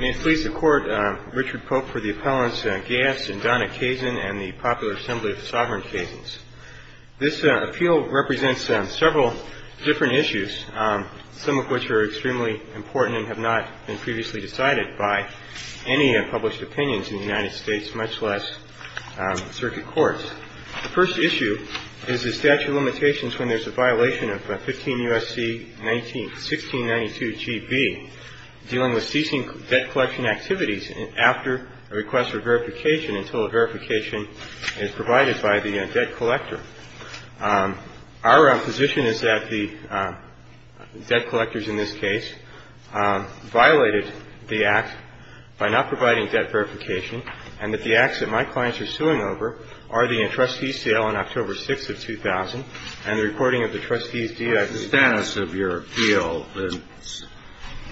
May it please the Court, Richard Pope for the appellants Gass and Donna Kazin and the Popular Assembly of the Sovereign Kazins. This appeal represents several different issues, some of which are extremely important and have not been previously decided by any published opinions in the United States, much less circuit courts. The first issue is the statute of limitations when there's a violation of 15 U.S.C. 1692GB dealing with ceasing debt collection activities after a request for verification until a verification is provided by the debt collector. Our position is that the debt collectors in this case violated the act by not providing debt verification and that the acts that my clients are suing over are the entrustee sale on October 6th of 2000 and the recording of the trustee's deal. The status of your appeal,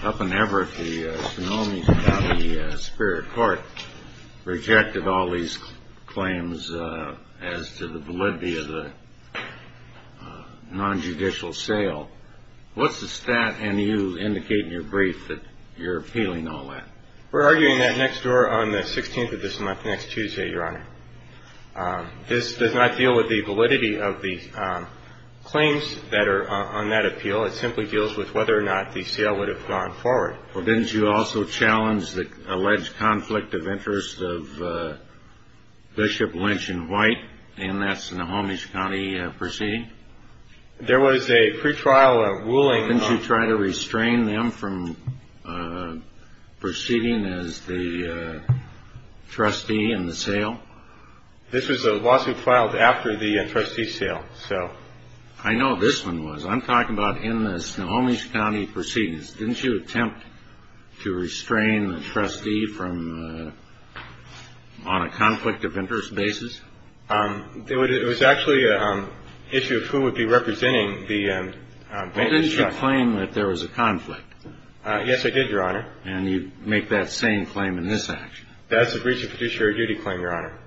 up in Everett, the Sonoma County Superior Court rejected all these claims as to the validity of the non-judicial sale. What's the stat and you indicate in your brief that you're appealing all that? We're arguing that next door on the 16th of this month, next Tuesday, Your Honor. This does not deal with the validity of the claims that are on that appeal. It simply deals with whether or not the sale would have gone forward. Well, didn't you also challenge the alleged conflict of interest of Bishop Lynch and White in that Sonoma County proceeding? There was a pretrial ruling. Didn't you try to restrain them from proceeding as the trustee in the sale? This was a lawsuit filed after the trustee sale. So I know this one was. I'm talking about in the Sonoma County proceedings. Didn't you attempt to restrain the trustee from on a conflict of interest basis? It was actually an issue of who would be representing the plaintiff's trustee. Well, didn't you claim that there was a conflict? Yes, I did, Your Honor. And you make that same claim in this action. That's a breach of fiduciary duty claim, Your Honor.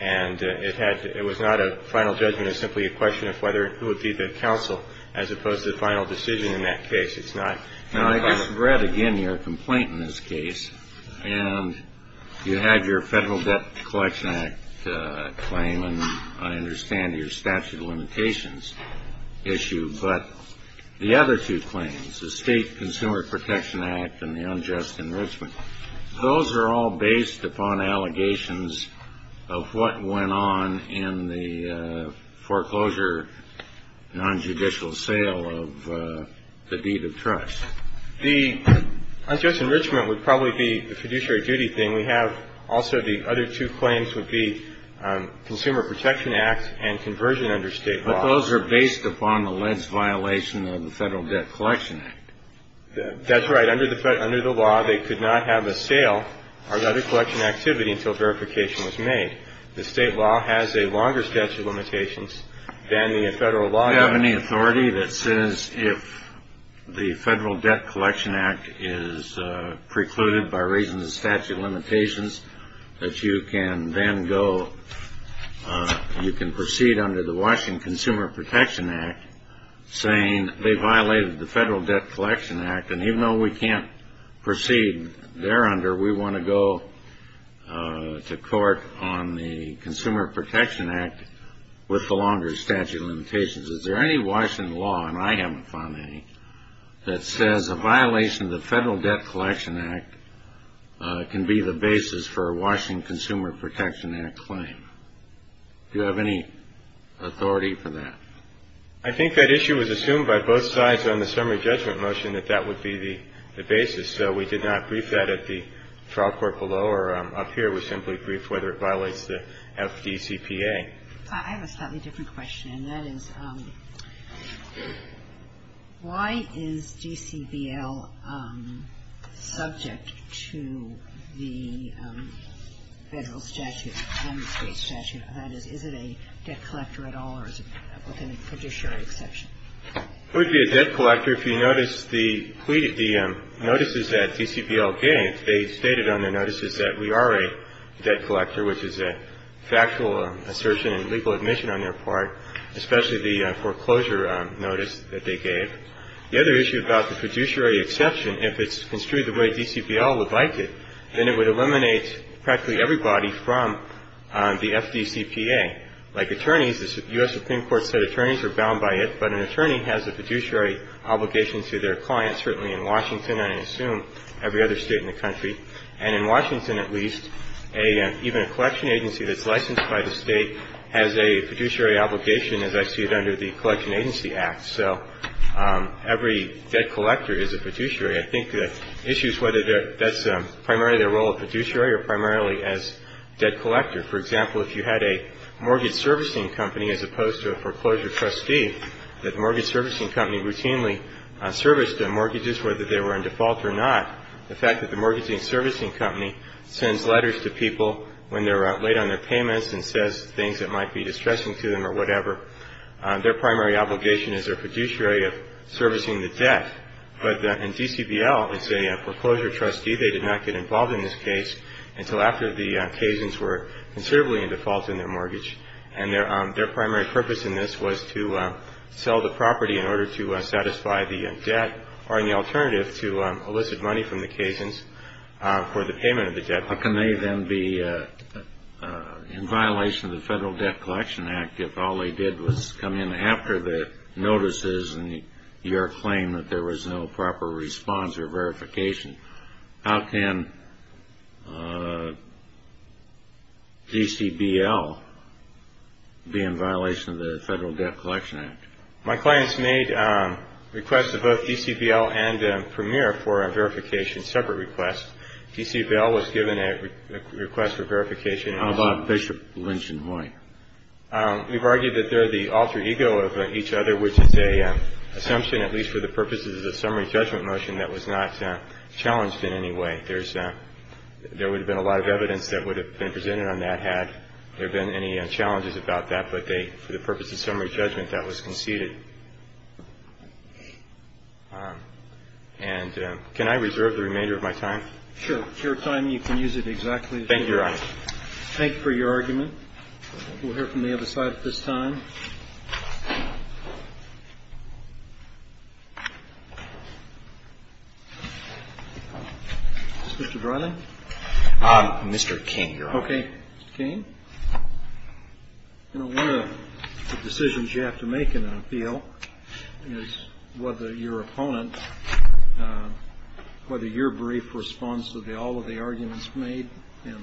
And it was not a final judgment. It was simply a question of whether who would be the counsel as opposed to the final decision in that case. Now, I just read again your complaint in this case. And you had your Federal Debt Collection Act claim, and I understand your statute of limitations issue. But the other two claims, the State Consumer Protection Act and the unjust enrichment, those are all based upon allegations of what went on in the foreclosure nonjudicial sale of the deed of trust. The unjust enrichment would probably be the fiduciary duty thing. We have also the other two claims would be Consumer Protection Act and conversion under State law. But those are based upon the alleged violation of the Federal Debt Collection Act. That's right. Under the law, they could not have a sale or other collection activity until verification was made. The State law has a longer statute of limitations than the Federal law does. Do you have any authority that says if the Federal Debt Collection Act is precluded by raising the statute of limitations, that you can then go, you can proceed under the Washington Consumer Protection Act saying they violated the Federal Debt Collection Act? And even though we can't proceed there under, we want to go to court on the Consumer Protection Act with the longer statute of limitations. Is there any Washington law, and I haven't found any, that says a violation of the Federal Debt Collection Act can be the basis for a Washington Consumer Protection Act claim? Do you have any authority for that? I think that issue was assumed by both sides on the summary judgment motion that that would be the basis. So we did not brief that at the trial court below or up here. We simply briefed whether it violates the FDCPA. I have a slightly different question, and that is, why is DCBL subject to the Federal statute and the State statute? That is, is it a debt collector at all, or is it a fiduciary exception? It would be a debt collector if you noticed the notices that DCBL gave. They stated on their notices that we are a debt collector, which is a factual assertion and legal admission on their part, especially the foreclosure notice that they gave. The other issue about the fiduciary exception, if it's construed the way DCBL would like it, then it would eliminate practically everybody from the FDCPA. Like attorneys, the U.S. Supreme Court said attorneys are bound by it, but an attorney has a fiduciary obligation to their clients, certainly in Washington, and I assume every other State in the country. And in Washington, at least, even a collection agency that's licensed by the State has a fiduciary obligation, as I see it under the Collection Agency Act. So every debt collector is a fiduciary. I think the issue is whether that's primarily the role of fiduciary or primarily as debt collector. For example, if you had a mortgage servicing company, as opposed to a foreclosure trustee, that the mortgage servicing company routinely serviced the mortgages, whether they were in default or not, the fact that the mortgage servicing company sends letters to people when they're late on their payments and says things that might be distressing to them or whatever, their primary obligation is their fiduciary of servicing the debt. But in DCBL, it's a foreclosure trustee. They did not get involved in this case until after the Cajuns were considerably in default in their mortgage, and their primary purpose in this was to sell the property in order to satisfy the debt or any alternative to elicit money from the Cajuns for the payment of the debt. But can they then be in violation of the Federal Debt Collection Act if all they did was come in after the notices and your claim that there was no proper response or verification? How can DCBL be in violation of the Federal Debt Collection Act? My clients made requests to both DCBL and Premier for a verification, separate requests. DCBL was given a request for verification. How about Bishop, Lynch, and Hoy? We've argued that they're the alter ego of each other, which is an assumption, at least for the purposes of the summary judgment motion, that was not challenged in any way. There's a – there would have been a lot of evidence that would have been presented on that had there been any challenges about that, but they – for the purposes of summary judgment, that was conceded. And can I reserve the remainder of my time? Sure. If you have time, you can use it exactly as you wish. Thank you, Your Honor. Thank you for your argument. We'll hear from the other side at this time. Is this Mr. Dryling? Mr. King, Your Honor. Okay. Mr. King? You know, one of the decisions you have to make in an appeal is whether your opponent whether your brief response to all of the arguments made and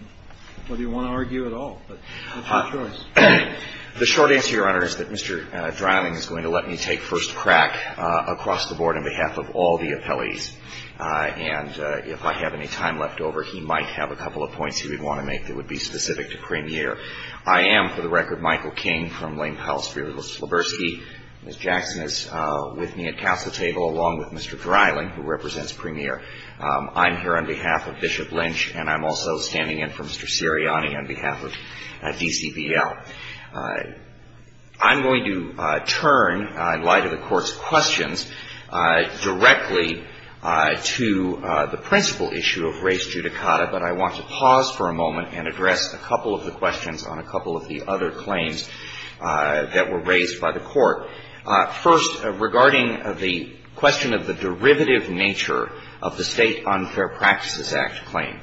whether you want to argue at all. But it's your choice. The short answer, Your Honor, is that Mr. Dryling is going to let me take first crack across the board on behalf of all the appellees. And if I have any time left over, he might have a couple of points he would want to make that would be specific to Premier. I am, for the record, Michael King from Lane Pellisbury. Ms. Jackson is with me at council table, along with Mr. Dryling, who represents Premier. I'm here on behalf of Bishop Lynch, and I'm also standing in for Mr. Sirianni on behalf of DCBL. I'm going to turn, in light of the Court's questions, directly to the principal issue of race judicata. But I want to pause for a moment and address a couple of the questions on a couple of the other claims that were raised by the Court. First, regarding the question of the derivative nature of the State Unfair Practices Act claim.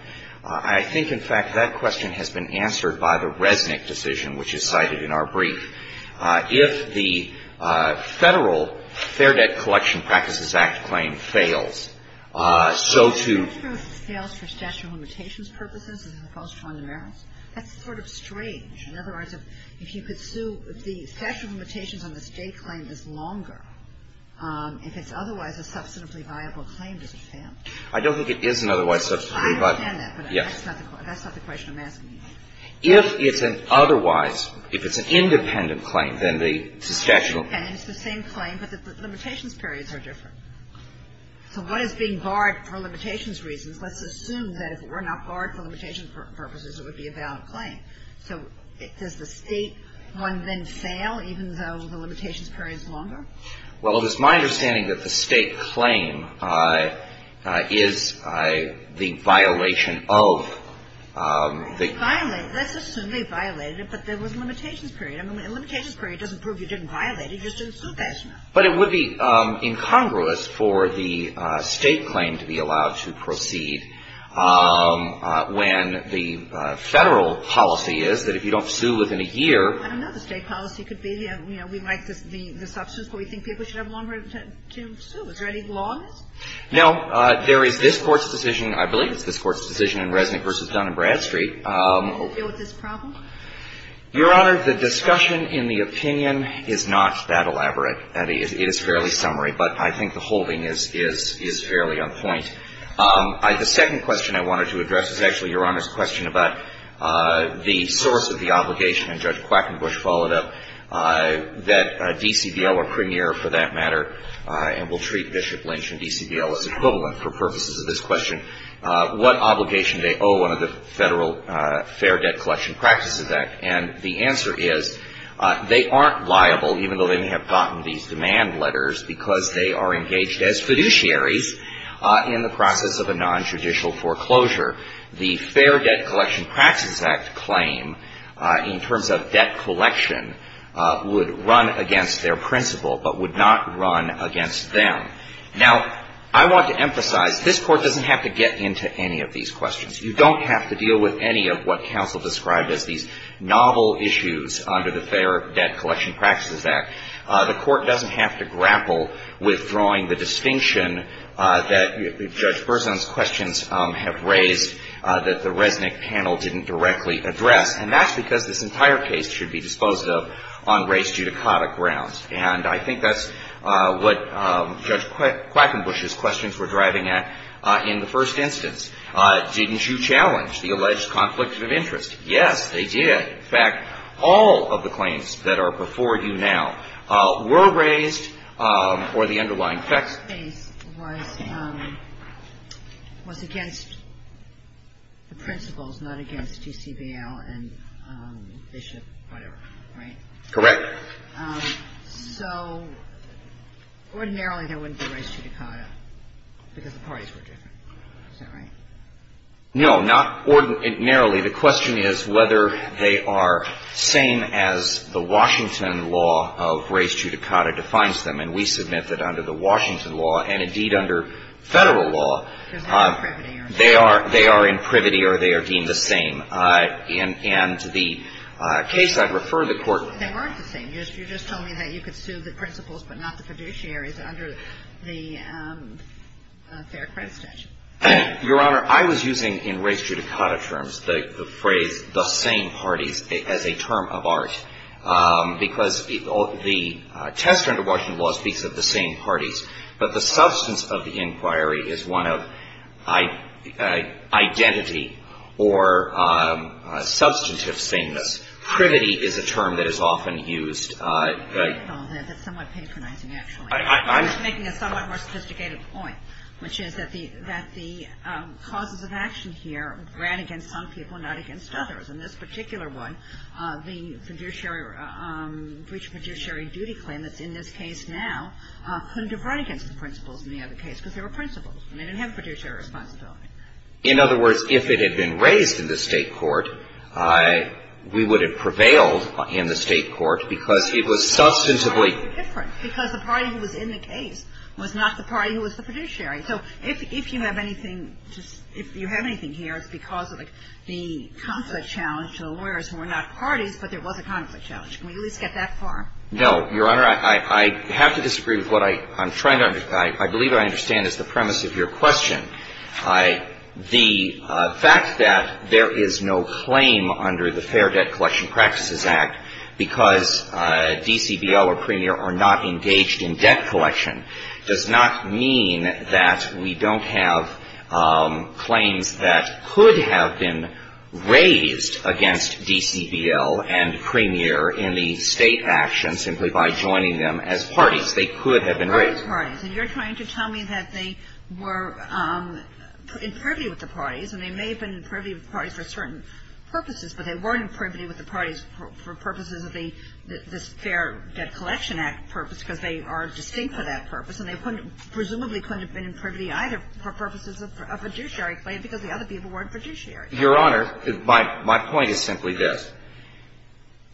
I think, in fact, that question has been answered by the Resnick decision, which is cited in our brief. If the Federal Fair Debt Collection Practices Act claim fails, so to ---- If it fails for statute of limitations purposes, as opposed to under merits, that's sort of strange. In other words, if you could sue, if the statute of limitations on the State claim is longer, if it's otherwise a substantively viable claim, does it fail? I don't think it is an otherwise substantively viable claim. I understand that, but that's not the question I'm asking you. If it's an otherwise, if it's an independent claim, then the substantial ---- And it's the same claim, but the limitations periods are different. So what is being barred for limitations reasons? Let's assume that if it were not barred for limitations purposes, it would be a valid claim. So does the State one then fail, even though the limitations period is longer? Well, it is my understanding that the State claim is the violation of the ---- Let's assume they violated it, but there was a limitations period. I mean, a limitations period doesn't prove you didn't violate it. You just didn't sue that. But it would be incongruous for the State claim to be allowed to proceed when the Federal policy is that if you don't sue within a year ---- I don't know if the State policy could be, you know, we like the substance, but we think people should have longer to sue. Is there any law on this? No. There is this Court's decision. I believe it's this Court's decision in Resnick v. Dunn and Bradstreet. It was this problem? Your Honor, the discussion in the opinion is not that elaborate. It is fairly summary. But I think the holding is fairly on point. The second question I wanted to address is actually Your Honor's question about the source of the obligation, and Judge Quackenbush followed up, that DCVL or Premier for that matter, and we'll treat Bishop Lynch and DCVL as equivalent for purposes of this question, what obligation do they owe under the Federal Fair Debt Collection Practice Act? And the answer is they aren't liable, even though they may have gotten these demand letters, because they are engaged as fiduciaries in the process of a nontraditional foreclosure. The Fair Debt Collection Practices Act claim, in terms of debt collection, would run against their principle, but would not run against them. Now, I want to emphasize, this Court doesn't have to get into any of these questions. You don't have to deal with any of what counsel described as these novel issues under the Fair Debt Collection Practices Act. The Court doesn't have to grapple with drawing the distinction that Judge Berzon's questions have raised that the Resnick panel didn't directly address. And that's because this entire case should be disposed of on race-judicotic grounds. And I think that's what Judge Quackenbush's questions were driving at in the first instance. Didn't you challenge the alleged conflict of interest? Yes, they did. In fact, all of the claims that are before you now were raised for the underlying facts. This case was against the principles, not against GCBL and Bishop, whatever, right? Correct. So ordinarily, they wouldn't be race-judicata, because the parties were different. Is that right? No, not ordinarily. The question is whether they are same as the Washington law of race-judicata defines them. And we submit that under the Washington law, and indeed under Federal law, they are in privity or they are deemed the same. And the case I'd refer the Court to. They aren't the same. You just told me that you could sue the principles but not the fiduciaries under the Fair Credit Statute. Your Honor, I was using in race-judicata terms the phrase the same parties as a term of art, because the test under Washington law speaks of the same parties. But the substance of the inquiry is one of identity or substantive sameness. Privity is a term that is often used. That's somewhat patronizing, actually. I was making a somewhat more sophisticated point, which is that the causes of action here ran against some people, not against others. In this particular one, the fiduciary duty claim that's in this case now couldn't have run against the principles in the other case, because they were principles and they didn't have fiduciary responsibility. In other words, if it had been raised in the State court, we would have prevailed in the State court, because it was substantively different, because the party who was in the case was not the party who was the fiduciary. So if you have anything here, it's because of the conflict challenge to the lawyers who were not parties, but there was a conflict challenge. Can we at least get that far? No, Your Honor. I have to disagree with what I'm trying to understand. I believe what I understand is the premise of your question. The fact that there is no claim under the Fair Debt Collection Practices Act because DCBL or Premier are not engaged in debt collection does not mean that we don't have claims that could have been raised against DCBL and Premier in the State action simply by joining them as parties. And you're trying to tell me that they were in privity with the parties, and they may have been in privity with the parties for certain purposes, but they weren't in privity with the parties for purposes of the Fair Debt Collection Act purpose, because they are distinct for that purpose. And they presumably couldn't have been in privity either for purposes of a fiduciary claim, because the other people weren't fiduciary. Your Honor, my point is simply this.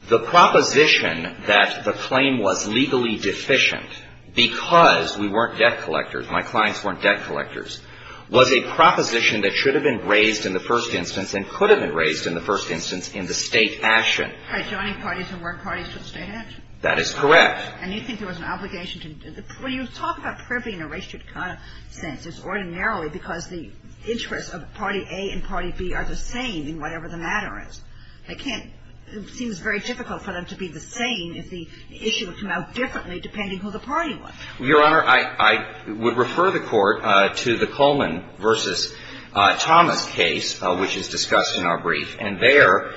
The proposition that the claim was legally deficient because we weren't debt collectors, my clients weren't debt collectors, was a proposition that should have been raised in the first instance and could have been raised in the first instance in the State action. By joining parties who weren't parties to the State action. That is correct. And you think there was an obligation to do that? When you talk about privity in a ratioed kind of sense, it's ordinarily because the interests of party A and party B are the same in whatever the matter is. I can't – it seems very difficult for them to be the same if the issue would come out differently depending who the party was. Your Honor, I would refer the Court to the Coleman v. Thomas case, which is discussed in our brief. And there,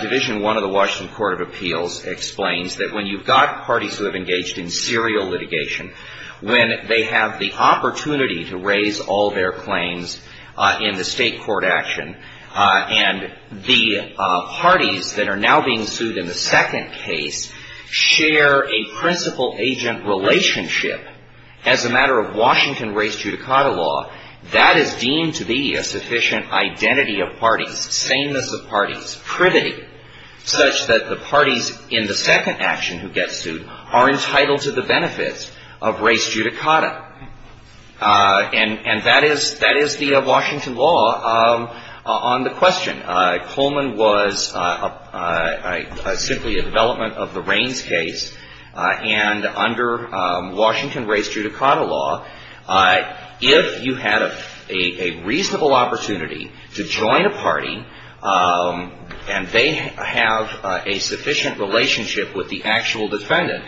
Division I of the Washington Court of Appeals explains that when you've got parties who have engaged in serial litigation when they have the opportunity to raise all their claims in the State court action, and the parties that are now being sued in the second case share a principal-agent relationship as a matter of Washington race judicata law, that is deemed to be a sufficient identity of parties, sameness of parties, privity, such that the parties in the second action who get sued are entitled to the benefits of race judicata. And that is the Washington law on the question. Coleman was simply a development of the Raines case. And under Washington race judicata law, if you had a reasonable opportunity to join a party and they have a sufficient relationship with the actual defendant,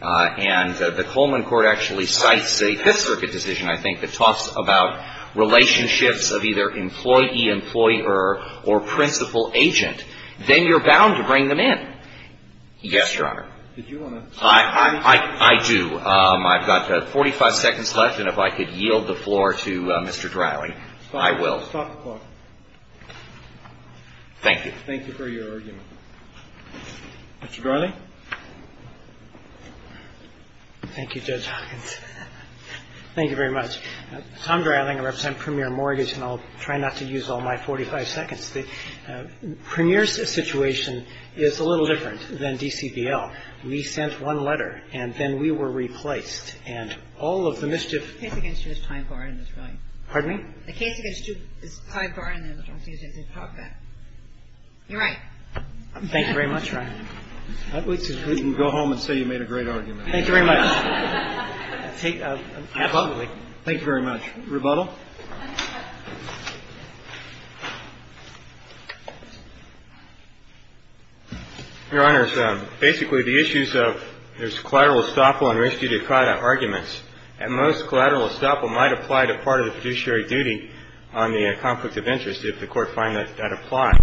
and the Coleman court actually cites a Fifth Circuit decision, I think, that talks about relationships of either employee-employer or principal-agent, then you're bound to bring them in. Yes, Your Honor. Did you want to say anything? I do. I've got 45 seconds left, and if I could yield the floor to Mr. Dryling, I will. Stop the clock. Thank you. Thank you for your argument. Mr. Dryling? Thank you, Judge Hawkins. Thank you very much. Tom Dryling. I represent Premier Mortgage, and I'll try not to use all my 45 seconds. The Premier's situation is a little different than DCVL. We sent one letter, and then we were replaced. And all of the mischief ---- The case against you is time-borrowing, Mr. Dryling. Pardon me? The case against you is time-borrowing, and I don't think it's appropriate. You're right. Thank you very much, Your Honor. We can go home and say you made a great argument. Thank you very much. Thank you very much. Rebuttal? Your Honors, basically the issues of there's collateral estoppel and res judicata arguments. At most, collateral estoppel might apply to part of the fiduciary duty on the conflict of interest if the Court finds that that applies.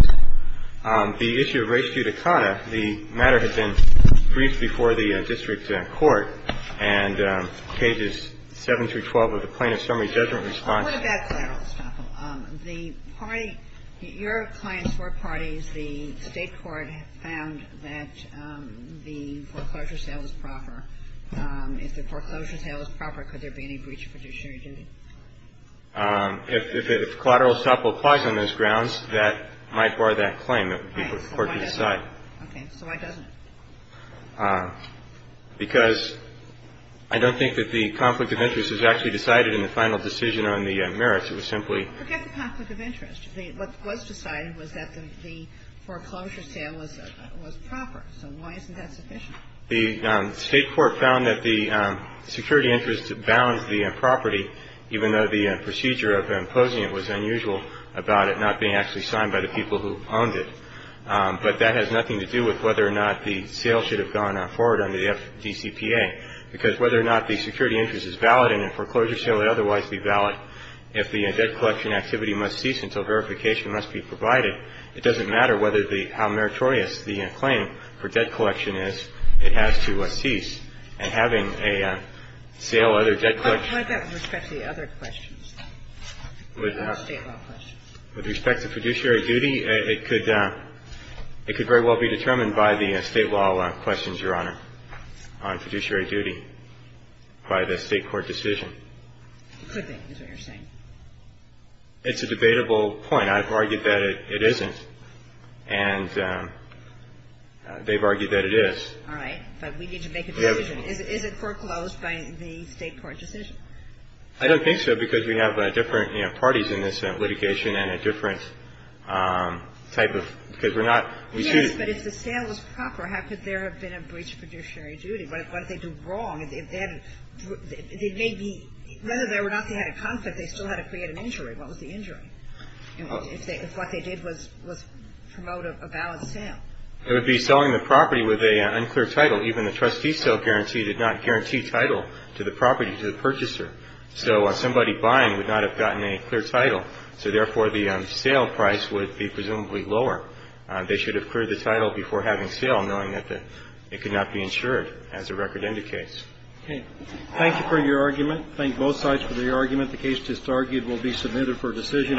The issue of res judicata, the matter had been briefed before the district court, and pages 7 through 12 of the plaintiff's summary judgment response. What about collateral estoppel? The party ---- your clients were parties. The State court found that the foreclosure sale was proper. If the foreclosure sale was proper, could there be any breach of fiduciary duty? If collateral estoppel applies on those grounds, that might bar that claim. It would be for the Court to decide. Okay. So why doesn't it? Because I don't think that the conflict of interest is actually decided in the final decision on the merits. It was simply ---- Forget the conflict of interest. What was decided was that the foreclosure sale was proper. So why isn't that sufficient? The State court found that the security interest bounds the property, even though the procedure of imposing it was unusual about it not being actually signed by the people who owned it. But that has nothing to do with whether or not the sale should have gone forward under the FDCPA, because whether or not the security interest is valid in a foreclosure sale would otherwise be valid if the debt collection activity must cease until verification must be provided. It doesn't matter whether the ---- how meritorious the claim for debt collection is. It has to cease. And having a sale under debt collection ---- What about with respect to the other questions, the State law questions? With respect to fiduciary duty, it could very well be determined by the State law questions, Your Honor, on fiduciary duty by the State court decision. It could be, is what you're saying. It's a debatable point. I've argued that it isn't. And they've argued that it is. All right. But we need to make a decision. Is it foreclosed by the State court decision? I don't think so, because we have different, you know, parties in this litigation and a different type of ---- because we're not ---- Yes, but if the sale is proper, how could there have been a breach of fiduciary duty? What did they do wrong? If they had a ---- they may be ---- whether or not they had a conflict, they still had to create an injury. What was the injury? If what they did was promote a valid sale. It would be selling the property with an unclear title. Even the trustee sale guarantee did not guarantee title to the property to the purchaser. So somebody buying would not have gotten a clear title. So, therefore, the sale price would be presumably lower. They should have cleared the title before having sale, knowing that the ---- it could not be insured, as the record indicates. Okay. Thank you for your argument. Thank both sides for the argument. The case just argued will be submitted for decision.